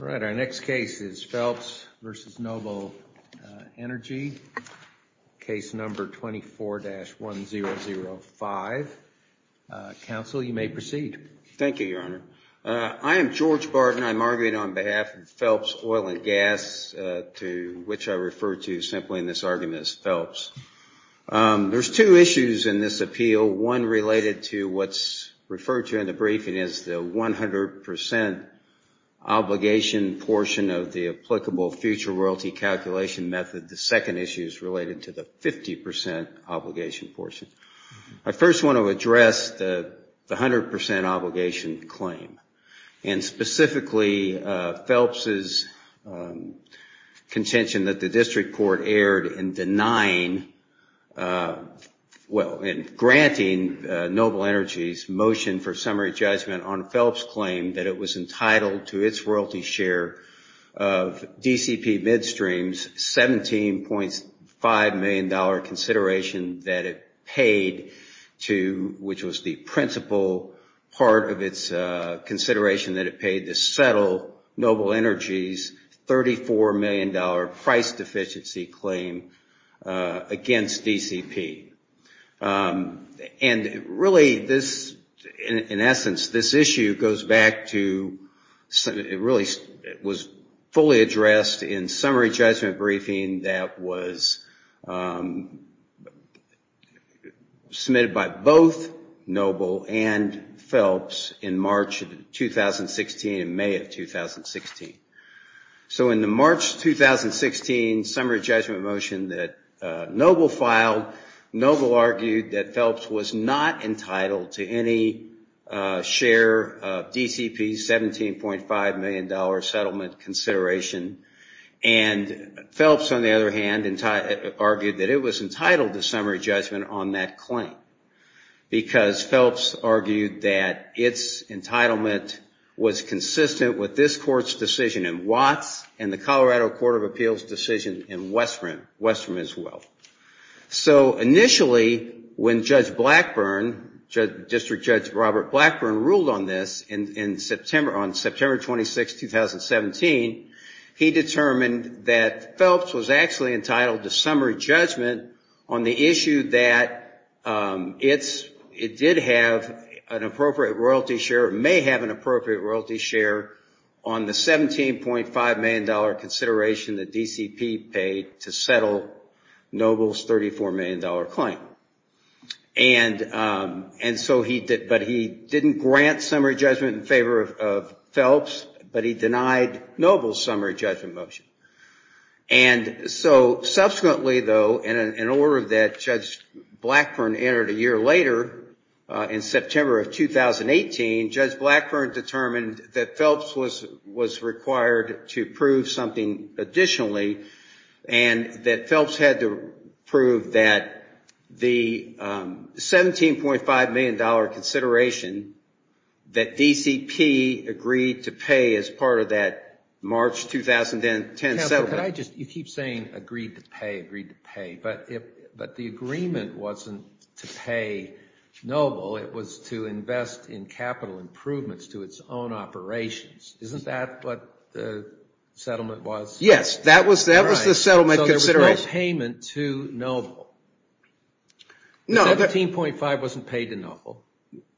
All right, our next case is Phelps v. Noble Energy, case number 24-1005. Counsel, you may proceed. Thank you, Your Honor. I am George Barton. I'm arguing on behalf of Phelps Oil and Gas, to which I refer to simply in this argument as Phelps. There's two issues in this appeal. One related to what's referred to in the briefing as the 100% obligation portion of the applicable future royalty calculation method. The second issue is related to the 50% obligation portion. I first want to address the 100% obligation claim, and specifically Phelps' contention that the district court erred in denying, well, in granting Noble Energy's motion for summary judgment on Phelps' claim that it was entitled to its royalty share of DCP Midstream's $17.5 million consideration that it paid to, which was the principal part of its consideration that it paid to settle Noble Energy's $34 million price deficiency claim against DCP. And really, in essence, this issue goes back to, it really was fully addressed in summary judgment briefing that was submitted by both Noble and Phelps in March of 2016 and May of 2016. So in the March 2016 summary judgment motion that Noble filed, Noble argued that Phelps was not entitled to any share of DCP's $17.5 million settlement consideration. And Phelps, on the other hand, argued that it was entitled to summary judgment on that claim, because Phelps argued that its entitlement was consistent with this court's decision in Watts and the Colorado Court of Appeals' decision in Westbrook, as well. So initially, when Judge Blackburn, District Judge Robert Blackburn, ruled on this on September 26, 2017, he determined that Phelps was actually entitled to summary judgment on the issue that it did have an appropriate royalty share, or may have an appropriate royalty share, on the $17.5 million consideration that DCP paid to settle Noble's $34 million claim. And so he did, but he didn't grant summary judgment in favor of Phelps, but he denied Noble's summary judgment motion. And so subsequently, though, in an order that Judge Blackburn entered a year later, in September of 2018, Judge Blackburn determined that Phelps was required to prove something additionally, and that Phelps had to prove that the $17.5 million consideration that DCP agreed to pay as part of that March 2010 settlement. You keep saying agreed to pay, agreed to pay, but the agreement wasn't to pay Noble, it was to invest in capital improvements to its own operations. Isn't that what the settlement was? Yes, that was the settlement consideration. So there was no payment to Noble. No. The $17.5 wasn't paid to Noble.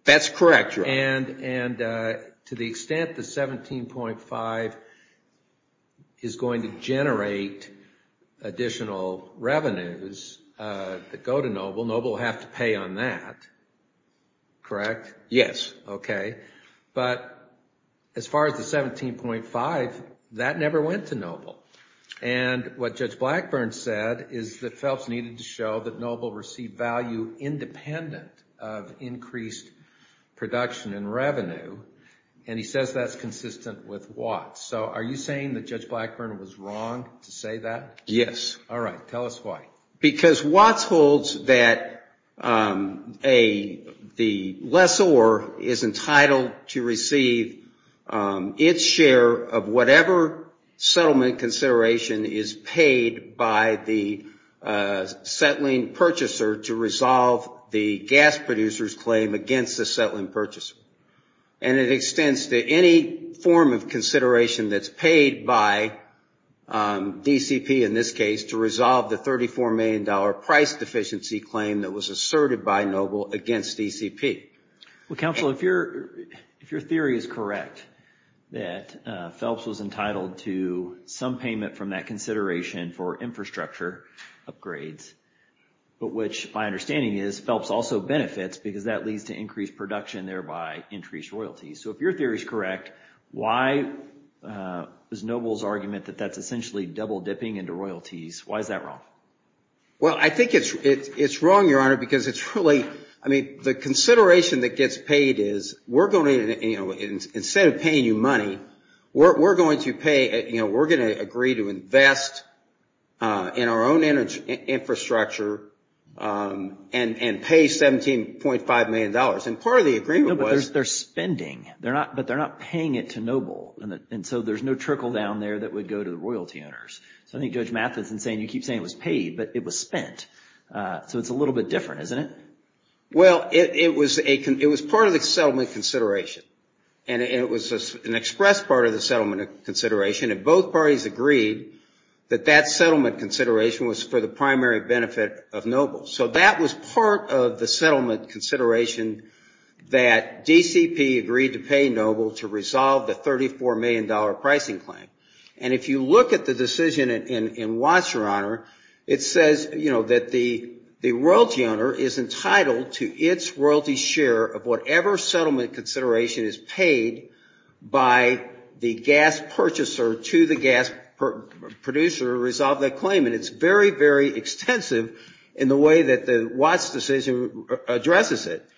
That's correct, Your Honor. And to the extent the $17.5 is going to generate additional revenues that go to Noble, Noble will have to pay on that, correct? Yes. Okay. But as far as the $17.5, that never went to Noble. And what Judge Blackburn said is that Phelps needed to show that Noble received value independent of increased production and revenue. And he says that's consistent with Watts. So are you saying that Judge Blackburn was wrong to say that? Yes. All right. Tell us why. Because Watts holds that the lessor is entitled to receive its share of whatever settlement consideration is paid by the settling purchaser to resolve the gas producer's claim against the settling purchaser. And it extends to any form of consideration that's paid by DCP in this case to resolve the $34 million price deficiency claim that was asserted by Noble against DCP. Well, Counselor, if your theory is correct, that Phelps was entitled to some payment from that consideration for infrastructure upgrades, but which my understanding is Phelps also benefits because that leads to increased production, thereby increased royalties. So if your theory is correct, why is Noble's argument that that's essentially double dipping into royalties? Why is that wrong? Well, I think it's wrong, Your Honor, because it's really, I mean, the consideration that gets paid is we're going to, you know, own infrastructure and pay $17.5 million. And part of the agreement was... No, but they're spending. But they're not paying it to Noble. And so there's no trickle down there that would go to the royalty owners. So I think Judge Mathis is saying you keep saying it was paid, but it was spent. So it's a little bit different, isn't it? Well, it was part of the settlement consideration. And it was an express part of the settlement consideration. And both parties agreed that that settlement consideration was for the primary benefit of Noble. So that was part of the settlement consideration that DCP agreed to pay Noble to resolve the $34 million pricing claim. And if you look at the decision in Watts, Your Honor, it says, you know, that the royalty owner is entitled to its royalty share of the $34 million price deficiency claim. And it's very, very extensive in the way that the Watts decision addresses it.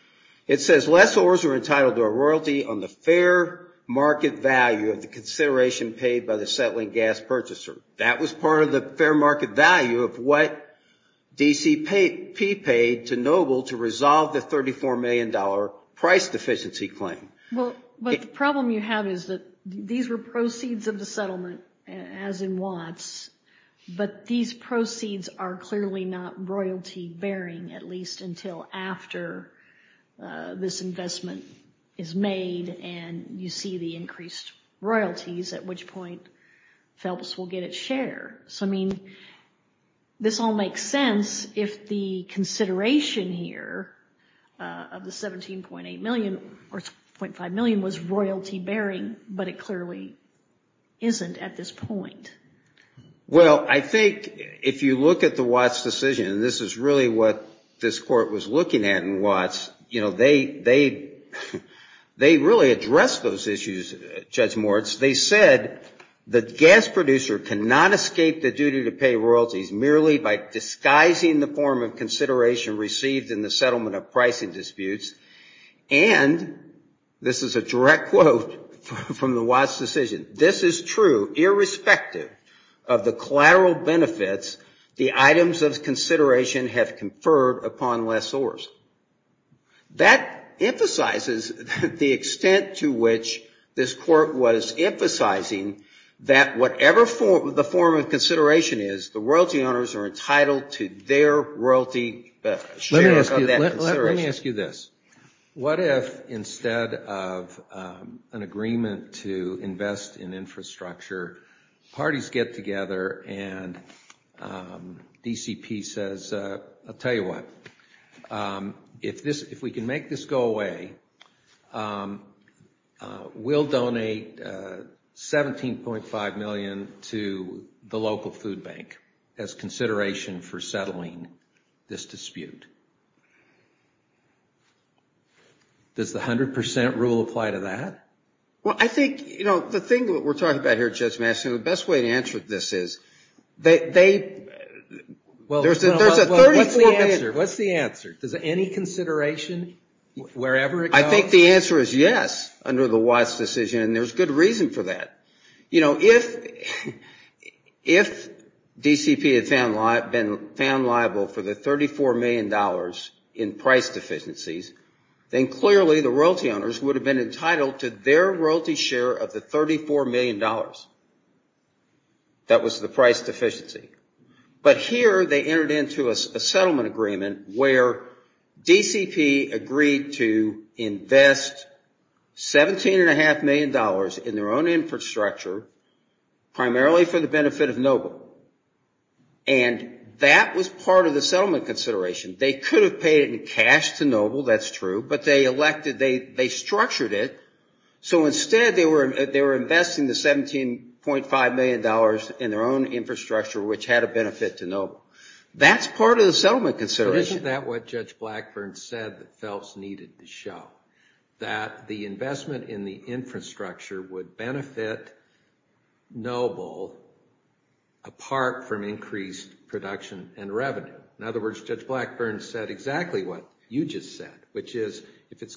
It says lessors are entitled to a royalty on the fair market value of the consideration paid by the settling gas purchaser. That was part of the fair market value of what DCP paid to Noble to resolve the $34 million price deficiency claim. Well, but the problem you have is that these were proceeds of the settlement, as in Watts. But these proceeds are clearly not royalty bearing, at least until after this investment is made and you see the increased royalties, at which point Phelps will get its share. So, I mean, this all makes sense if the consideration here of the $17.8 million or $17.5 million was royalty bearing, but it clearly isn't at this point. Well, I think if you look at the Watts decision, and this is really what this Court was looking at in Watts, you know, they really addressed those issues, Judge Moritz. They said the gas producer cannot escape the duty to pay royalties merely by disguising the form of consideration received in the settlement of pricing disputes, and this is a direct quote from the Watts decision, this is true irrespective of the collateral benefits the items of consideration have conferred upon lessors. That emphasizes the extent to which this Court was emphasizing that whatever the form of consideration is, the royalty owners are entitled to their royalty. Let me ask you this. What if instead of an agreement to invest in infrastructure, parties get together and DCP says, I'll tell you what, if we can make this go away, we'll donate $17.5 million to the local food bank as consideration for settling this dispute. Does the 100% rule apply to that? Well, I think, you know, the thing that we're talking about here, Judge Masson, the best way to answer this is, there's a 34 million... Well, what's the answer? Does any consideration, wherever it goes... I think the answer is yes, under the Watts decision, and there's good reason for that. You know, if DCP had been found liable for the $34 million in price deficiencies, then clearly the royalty owners would have been entitled to their royalty share of the $34 million. That was the price deficiency. But here they entered into a settlement agreement where DCP agreed to invest $17.5 million in their own infrastructure, primarily for the benefit of Noble, and that was part of the settlement consideration. They could have paid it in cash to Noble, that's true, but they structured it. So instead they were investing the $17.5 million in their own infrastructure, which had a benefit to Noble. That's part of the settlement consideration. Isn't that what Judge Blackburn said that Phelps needed to show? That the investment in the infrastructure would benefit Noble apart from increased production and revenue. In other words, Judge Blackburn said exactly what you just said, which is, if you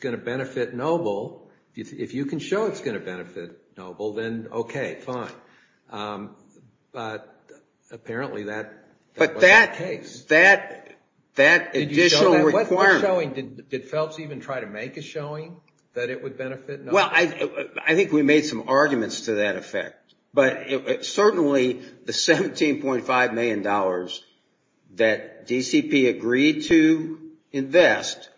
can show it's going to benefit Noble, then okay, fine. But apparently that wasn't the case. Did Phelps even try to make a showing that it would benefit Noble? Well, I think we made some arguments to that effect. But certainly the $17.5 million that DCP agreed to invest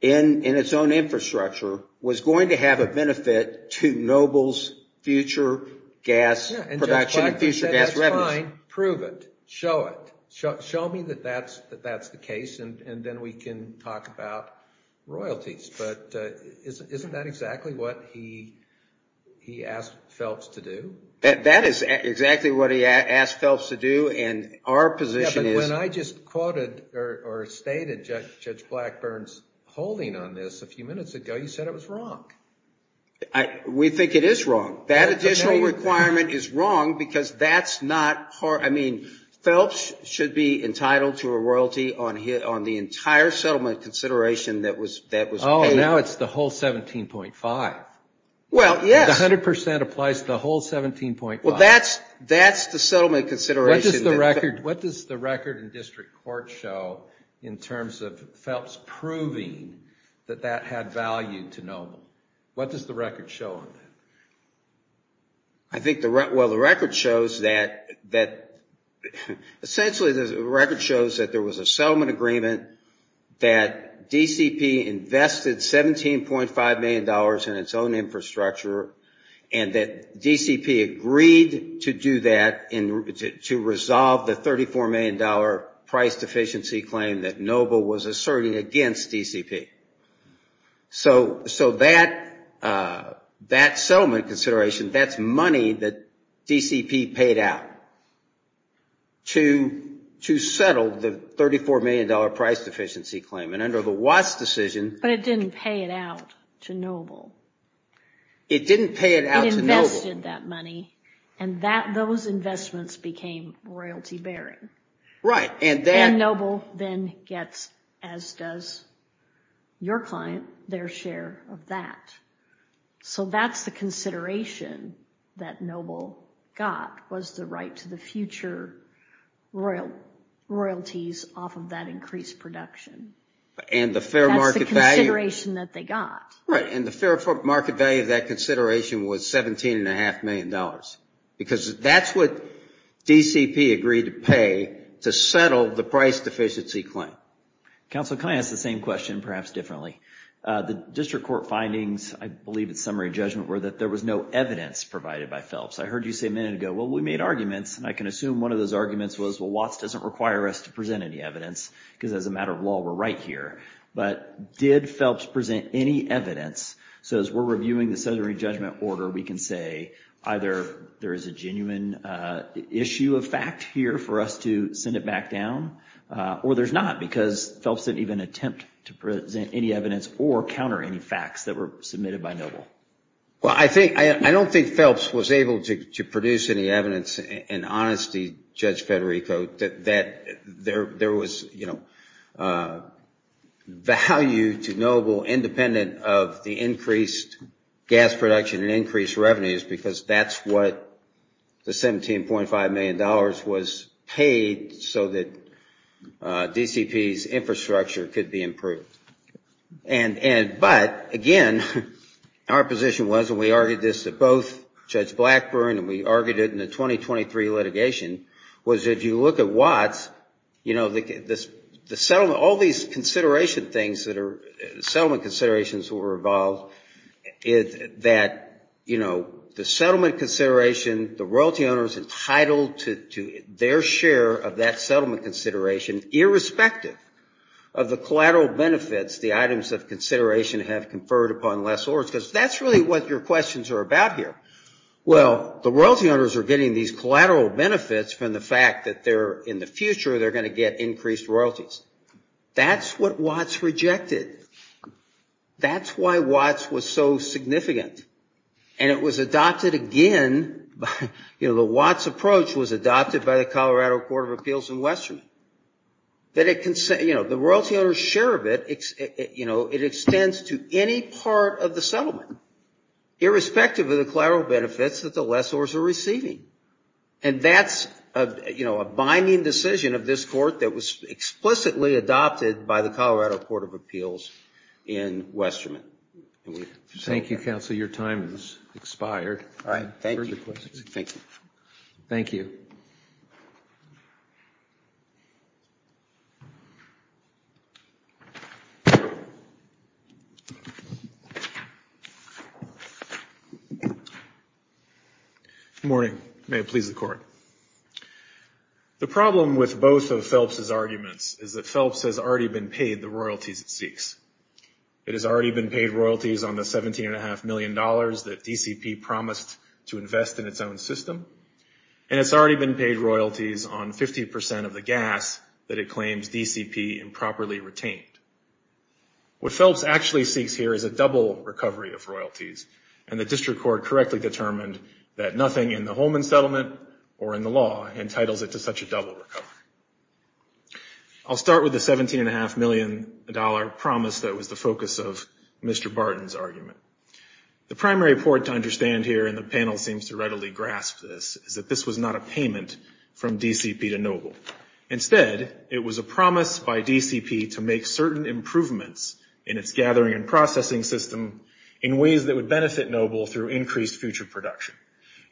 in its own infrastructure was going to have a benefit to Noble's future gas production and future gas revenue. Fine, prove it, show it, show me that that's the case, and then we can talk about royalties. But isn't that exactly what he asked Phelps to do? That is exactly what he asked Phelps to do, and our position is... Yeah, but when I just quoted or stated Judge Blackburn's holding on this a few minutes ago, you said it was wrong. We think it is wrong. That additional requirement is wrong because that's not... I mean, Phelps should be entitled to a royalty on the entire settlement consideration that was paid. Oh, now it's the whole $17.5 million. Well, that's the settlement consideration. What does the record in district court show in terms of Phelps proving that that had value to Noble? What does the record show on that? I think the record shows that there was a settlement agreement that DCP invested $17.5 million in its own infrastructure, and that DCP agreed to do that to resolve the $34 million price deficiency claim that Noble was asserting against DCP. So that settlement consideration, that's money that DCP paid out to settle the $34 million price deficiency claim. But it didn't pay it out to Noble. It invested that money, and those investments became royalty bearing. And Noble then gets, as does your client, their share of that. So that's the consideration that Noble got, was the right to the future royalties off of that increased production. And the fair market value of that consideration was $17.5 million. Because that's what DCP agreed to pay to settle the price deficiency claim. Counsel, can I ask the same question, perhaps differently? The district court findings, I believe it's summary judgment, were that there was no evidence provided by Phelps. I heard you say a minute ago, well, we made arguments, and I can assume one of those arguments was, well, Watts doesn't require us to present any evidence, because as a matter of law, we're right here. But did Phelps present any evidence? So as we're reviewing the summary judgment order, we can say either there is a genuine issue of fact here for us to send it back down, or there's not. Because Phelps didn't even attempt to present any evidence or counter any facts that were submitted by Noble. Well, I don't think Phelps was able to produce any evidence in honesty, Judge Federico, that there was value to Noble independent of the increased gas production and increased revenues, because that's what the $17.5 million was paid so that DCP's infrastructure could be improved. But, again, our position was, and we argued this at both Judge Blackburn, and we argued it in the 2023 litigation, was that if you look at Watts, all these settlement considerations that were involved, is that the settlement consideration, the royalty owner is entitled to their share of that settlement consideration, irrespective of the collateral benefits of the settlement. And the collateral benefits, the items of consideration have conferred upon lessors, because that's really what your questions are about here. Well, the royalty owners are getting these collateral benefits from the fact that in the future they're going to get increased royalties. That's what Watts rejected. That's why Watts was so significant. And it was adopted again, the Watts approach was adopted by the Colorado Court of Appeals in Western. That the royalty owner's share of it, it extends to any part of the settlement, irrespective of the collateral benefits that the lessors are receiving. And that's a binding decision of this court that was explicitly adopted by the Colorado Court of Appeals in Western. Thank you, counsel. Your time has expired. Good morning. May it please the court. The problem with both of Phelps' arguments is that Phelps has already been paid the royalties it seeks. It has already been paid royalties on the $17.5 million that DCP promised to invest in its own system, and it's already been paid royalties on 50% of the gas that the DCP promised to invest in its own system. And it's already been paid royalties on 50% of the gas that it claims DCP improperly retained. What Phelps actually seeks here is a double recovery of royalties, and the district court correctly determined that nothing in the Holman settlement or in the law entitles it to such a double recovery. I'll start with the $17.5 million promise that was the focus of Mr. Barton's argument. The primary point to understand here, and the panel seems to readily grasp this, is that this was not a payment from DCP to Noble. Instead, it was a promise by DCP to make certain improvements in its gathering and processing system in ways that would benefit Noble through increased future production.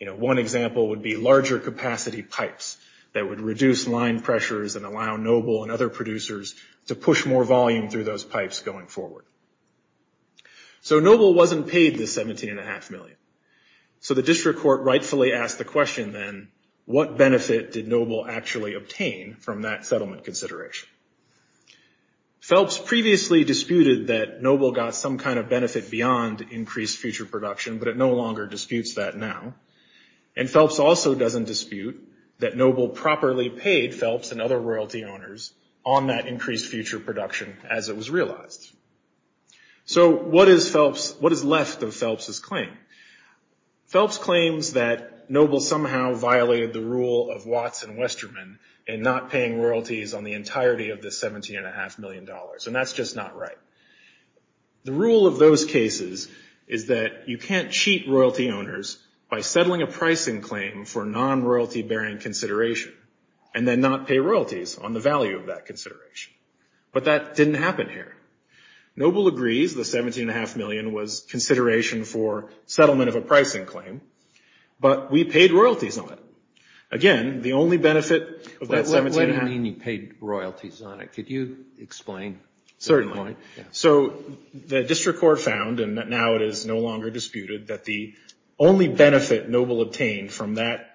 One example would be larger capacity pipes that would reduce line pressures and allow Noble and other producers to push more volume through those pipes going forward. So Noble wasn't paid the $17.5 million. So the district court rightfully asked the question then, what benefit did Noble actually obtain? From that settlement consideration. Phelps previously disputed that Noble got some kind of benefit beyond increased future production, but it no longer disputes that now. And Phelps also doesn't dispute that Noble properly paid Phelps and other royalty owners on that increased future production as it was realized. So what is Phelps, what is left of Phelps' claim? Phelps claims that Noble somehow violated the rule of Watts and Westerman, and Noble was not paid the $17.5 million. And that's just not right. The rule of those cases is that you can't cheat royalty owners by settling a pricing claim for non-royalty bearing consideration, and then not pay royalties on the value of that consideration. But that didn't happen here. Noble agrees the $17.5 million was consideration for settlement of a pricing claim, but we paid royalties on it. Again, the only benefit of that $17.5 million- What do you mean you paid royalties on it? Could you explain that point? Certainly. So the district court found, and now it is no longer disputed, that the only benefit Noble obtained from that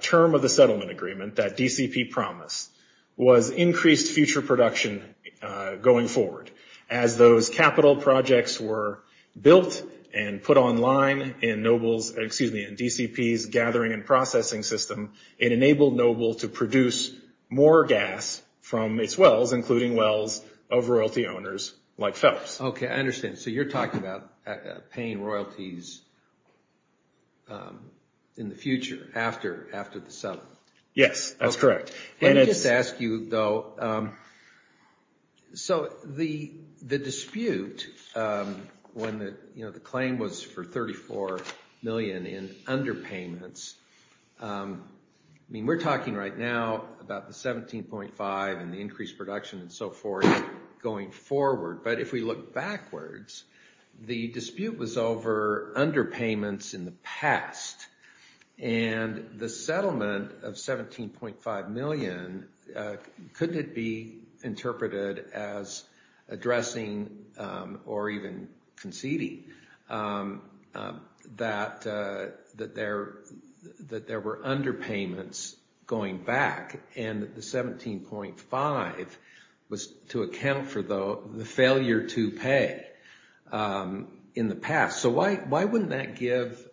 term of the settlement agreement that DCP promised was increased future production going forward. As those capital projects were built and put online in DCP's gathering and processing system, it enabled Noble to produce more gas from its wells, including wells of royalty owners like Phelps. Okay, I understand. So you're talking about paying royalties in the future, after the settlement? Yes, that's correct. Let me just ask you, though. So the dispute, when the claim was for $34 million in underpayments, and the dispute between Phelps and Noble, I mean, we're talking right now about the $17.5 and the increased production and so forth going forward, but if we look backwards, the dispute was over underpayments in the past, and the settlement of $17.5 million, couldn't it be interpreted as addressing or even conceding that there were underpayments going back, and the $17.5 was to account for the failure to pay in the past? So why wouldn't that give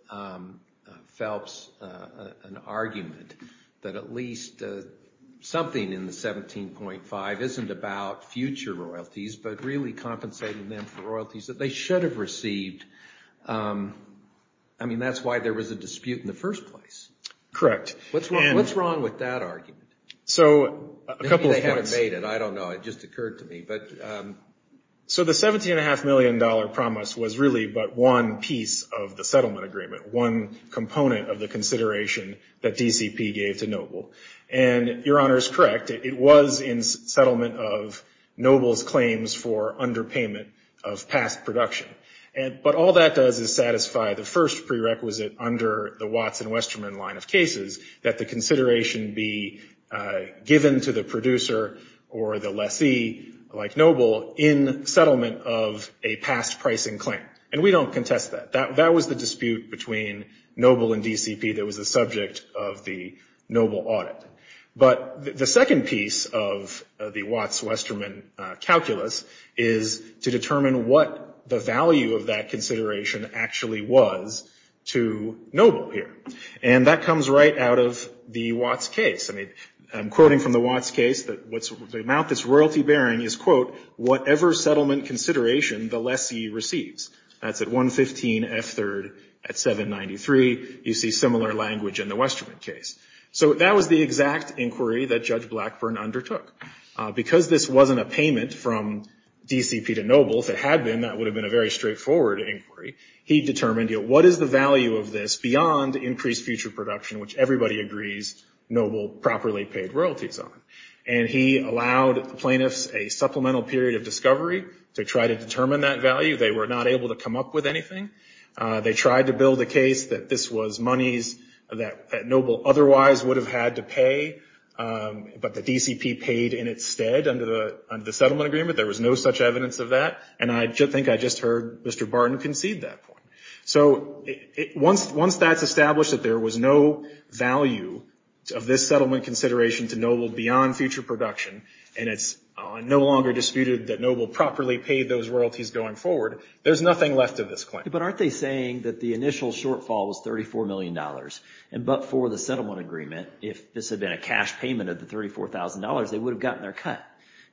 Phelps an argument that at least something in the $17.5 isn't about future royalties, but really compensating them for royalties that they should have received? I mean, that's why there was a dispute in the first place. Correct. What's wrong with that argument? Maybe they haven't made it, I don't know, it just occurred to me. So the $17.5 million promise was really but one piece of the settlement agreement, one component of the consideration that DCP gave to Noble. And your Honor is correct, it was in settlement of Noble's claims for underpayment of $17.5 million. And that was the dispute of past production. But all that does is satisfy the first prerequisite under the Watts and Westerman line of cases that the consideration be given to the producer or the lessee, like Noble, in settlement of a past pricing claim. And we don't contest that. That was the dispute between Noble and DCP that was the subject of the Noble audit. But the second piece of the Watts-Westerman calculus is to determine what the settlement of $17.5 million was. And what the value of that consideration actually was to Noble here. And that comes right out of the Watts case. I'm quoting from the Watts case, the amount that's royalty bearing is, quote, whatever settlement consideration the lessee receives. That's at 115 F3rd at 793. You see similar language in the Westerman case. So that was the exact inquiry that Judge Blackburn undertook. And that would have been a very straightforward inquiry. He determined what is the value of this beyond increased future production, which everybody agrees Noble properly paid royalties on. And he allowed plaintiffs a supplemental period of discovery to try to determine that value. They were not able to come up with anything. They tried to build a case that this was monies that Noble otherwise would have had to pay. But the DCP paid in its stead under the settlement agreement. There was no such evidence of that. And I think I just heard Mr. Barton concede that point. So once that's established that there was no value of this settlement consideration to Noble beyond future production, and it's no longer disputed that Noble properly paid those royalties going forward, there's nothing left of this claim. But aren't they saying that the initial shortfall was $34 million? And but for the settlement agreement, if this had been a cash payment of the $34,000, they would have gotten their cut.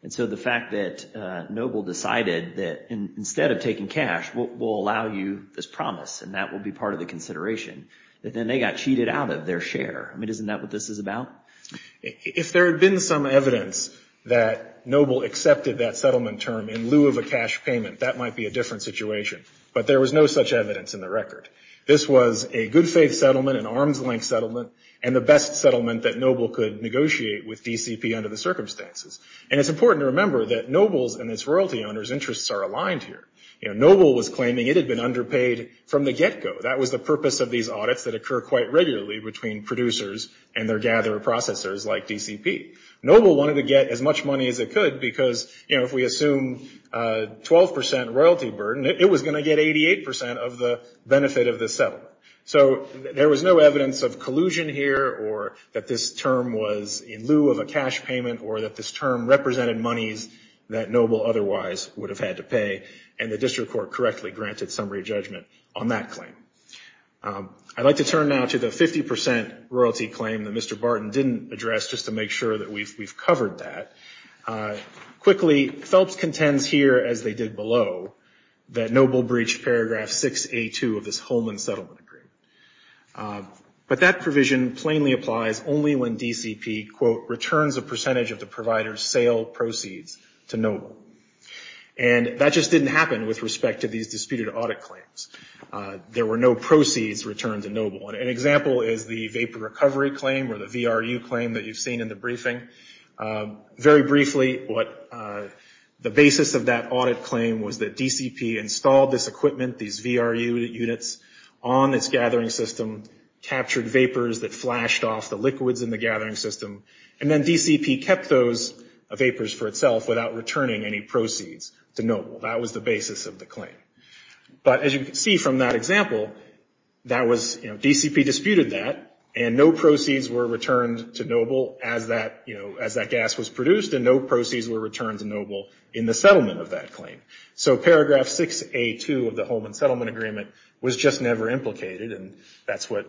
And so the fact that Noble decided that instead of taking cash, we'll allow you this promise, and that will be part of the consideration, that then they got cheated out of their share. I mean, isn't that what this is about? If there had been some evidence that Noble accepted that settlement term in lieu of a cash payment, that might be a different situation. But there was no such evidence in the record. This was a good faith settlement, an arm's length settlement, and the best settlement that Noble could negotiate with DCP under the circumstances. And it's important to remember that Noble's and its royalty owners' interests are aligned here. You know, Noble was claiming it had been underpaid from the get-go. That was the purpose of these audits that occur quite regularly between producers and their gatherer processors like DCP. Noble wanted to get as much money as it could because, you know, if we assume 12% royalty burden, it was going to get 88% of the benefit of this settlement. So there was no evidence of collusion here or that this term was in lieu of a cash payment or that this term was in lieu of a cash payment. This term represented monies that Noble otherwise would have had to pay, and the district court correctly granted summary judgment on that claim. I'd like to turn now to the 50% royalty claim that Mr. Barton didn't address just to make sure that we've covered that. Quickly, Phelps contends here, as they did below, that Noble breached Paragraph 6A2 of this Holman Settlement Agreement. But that provision plainly applies only when DCP, quote, returns a percentage of the provider's cash payment. That is, the sale proceeds to Noble. And that just didn't happen with respect to these disputed audit claims. There were no proceeds returned to Noble. An example is the vapor recovery claim or the VRU claim that you've seen in the briefing. Very briefly, the basis of that audit claim was that DCP installed this equipment, these VRU units, on its gathering system, captured vapors that flashed off the liquids in the gathering system, and then DCP kept those for a period of time. That was the basis of the claim. But as you can see from that example, DCP disputed that, and no proceeds were returned to Noble as that gas was produced, and no proceeds were returned to Noble in the settlement of that claim. So Paragraph 6A2 of the Holman Settlement Agreement was just never implicated, and that's what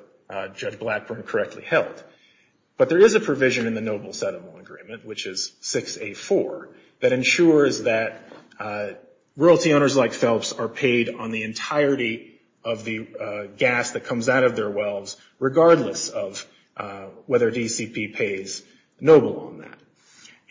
Judge Blackburn correctly held. But there is a provision in the Noble Settlement Agreement, which is 6A4, that ensures that royalty owners like Phelps are paid on the entirety of the gas that comes out of their wells, regardless of whether DCP pays Noble on that.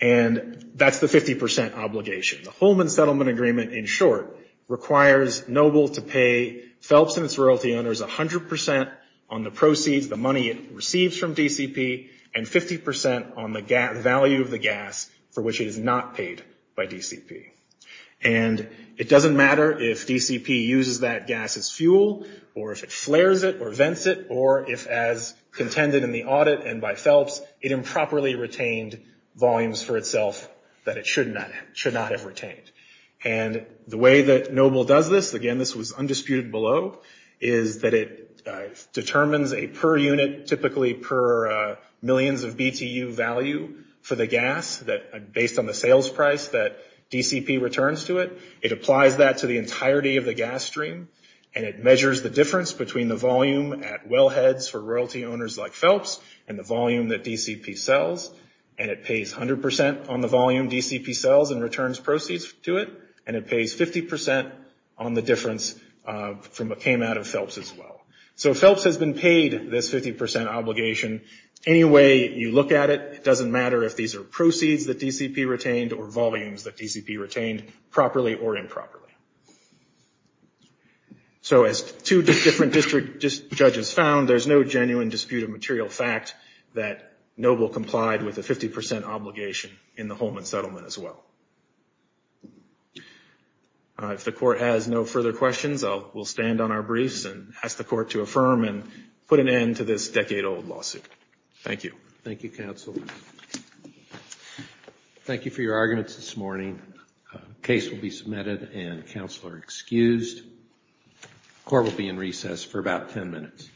And that's the 50 percent obligation. The Holman Settlement Agreement, in short, requires Noble to pay Phelps and its royalty owners 100 percent on the proceeds, the money it receives from DCP. And 50 percent on the value of the gas for which it is not paid by DCP. And it doesn't matter if DCP uses that gas as fuel, or if it flares it, or vents it, or if, as contended in the audit and by Phelps, it improperly retained volumes for itself that it should not have retained. And the way that Noble does this, again, this was undisputed below, is that it determines a per unit, typically per unit, or per unit. And it determines a per unit, typically per unit, or millions of BTU value for the gas, based on the sales price that DCP returns to it. It applies that to the entirety of the gas stream. And it measures the difference between the volume at well heads for royalty owners like Phelps and the volume that DCP sells. And it pays 100 percent on the volume DCP sells and returns proceeds to it. And it pays 50 percent on the difference from what came out of Phelps as well. So Phelps has been paid this 50 percent obligation any way you look at it. It doesn't matter if these are proceeds that DCP retained or volumes that DCP retained, properly or improperly. So as two different district judges found, there's no genuine dispute of material fact that Noble complied with a 50 percent obligation in the Holman settlement as well. If the court has no further questions, we'll stand on our briefs and ask the court to affirm and put an end to this decade-old lawsuit. Thank you. Thank you, counsel. Thank you for your arguments this morning. The case will be submitted and counsel are excused. The court will be in recess for about 10 minutes.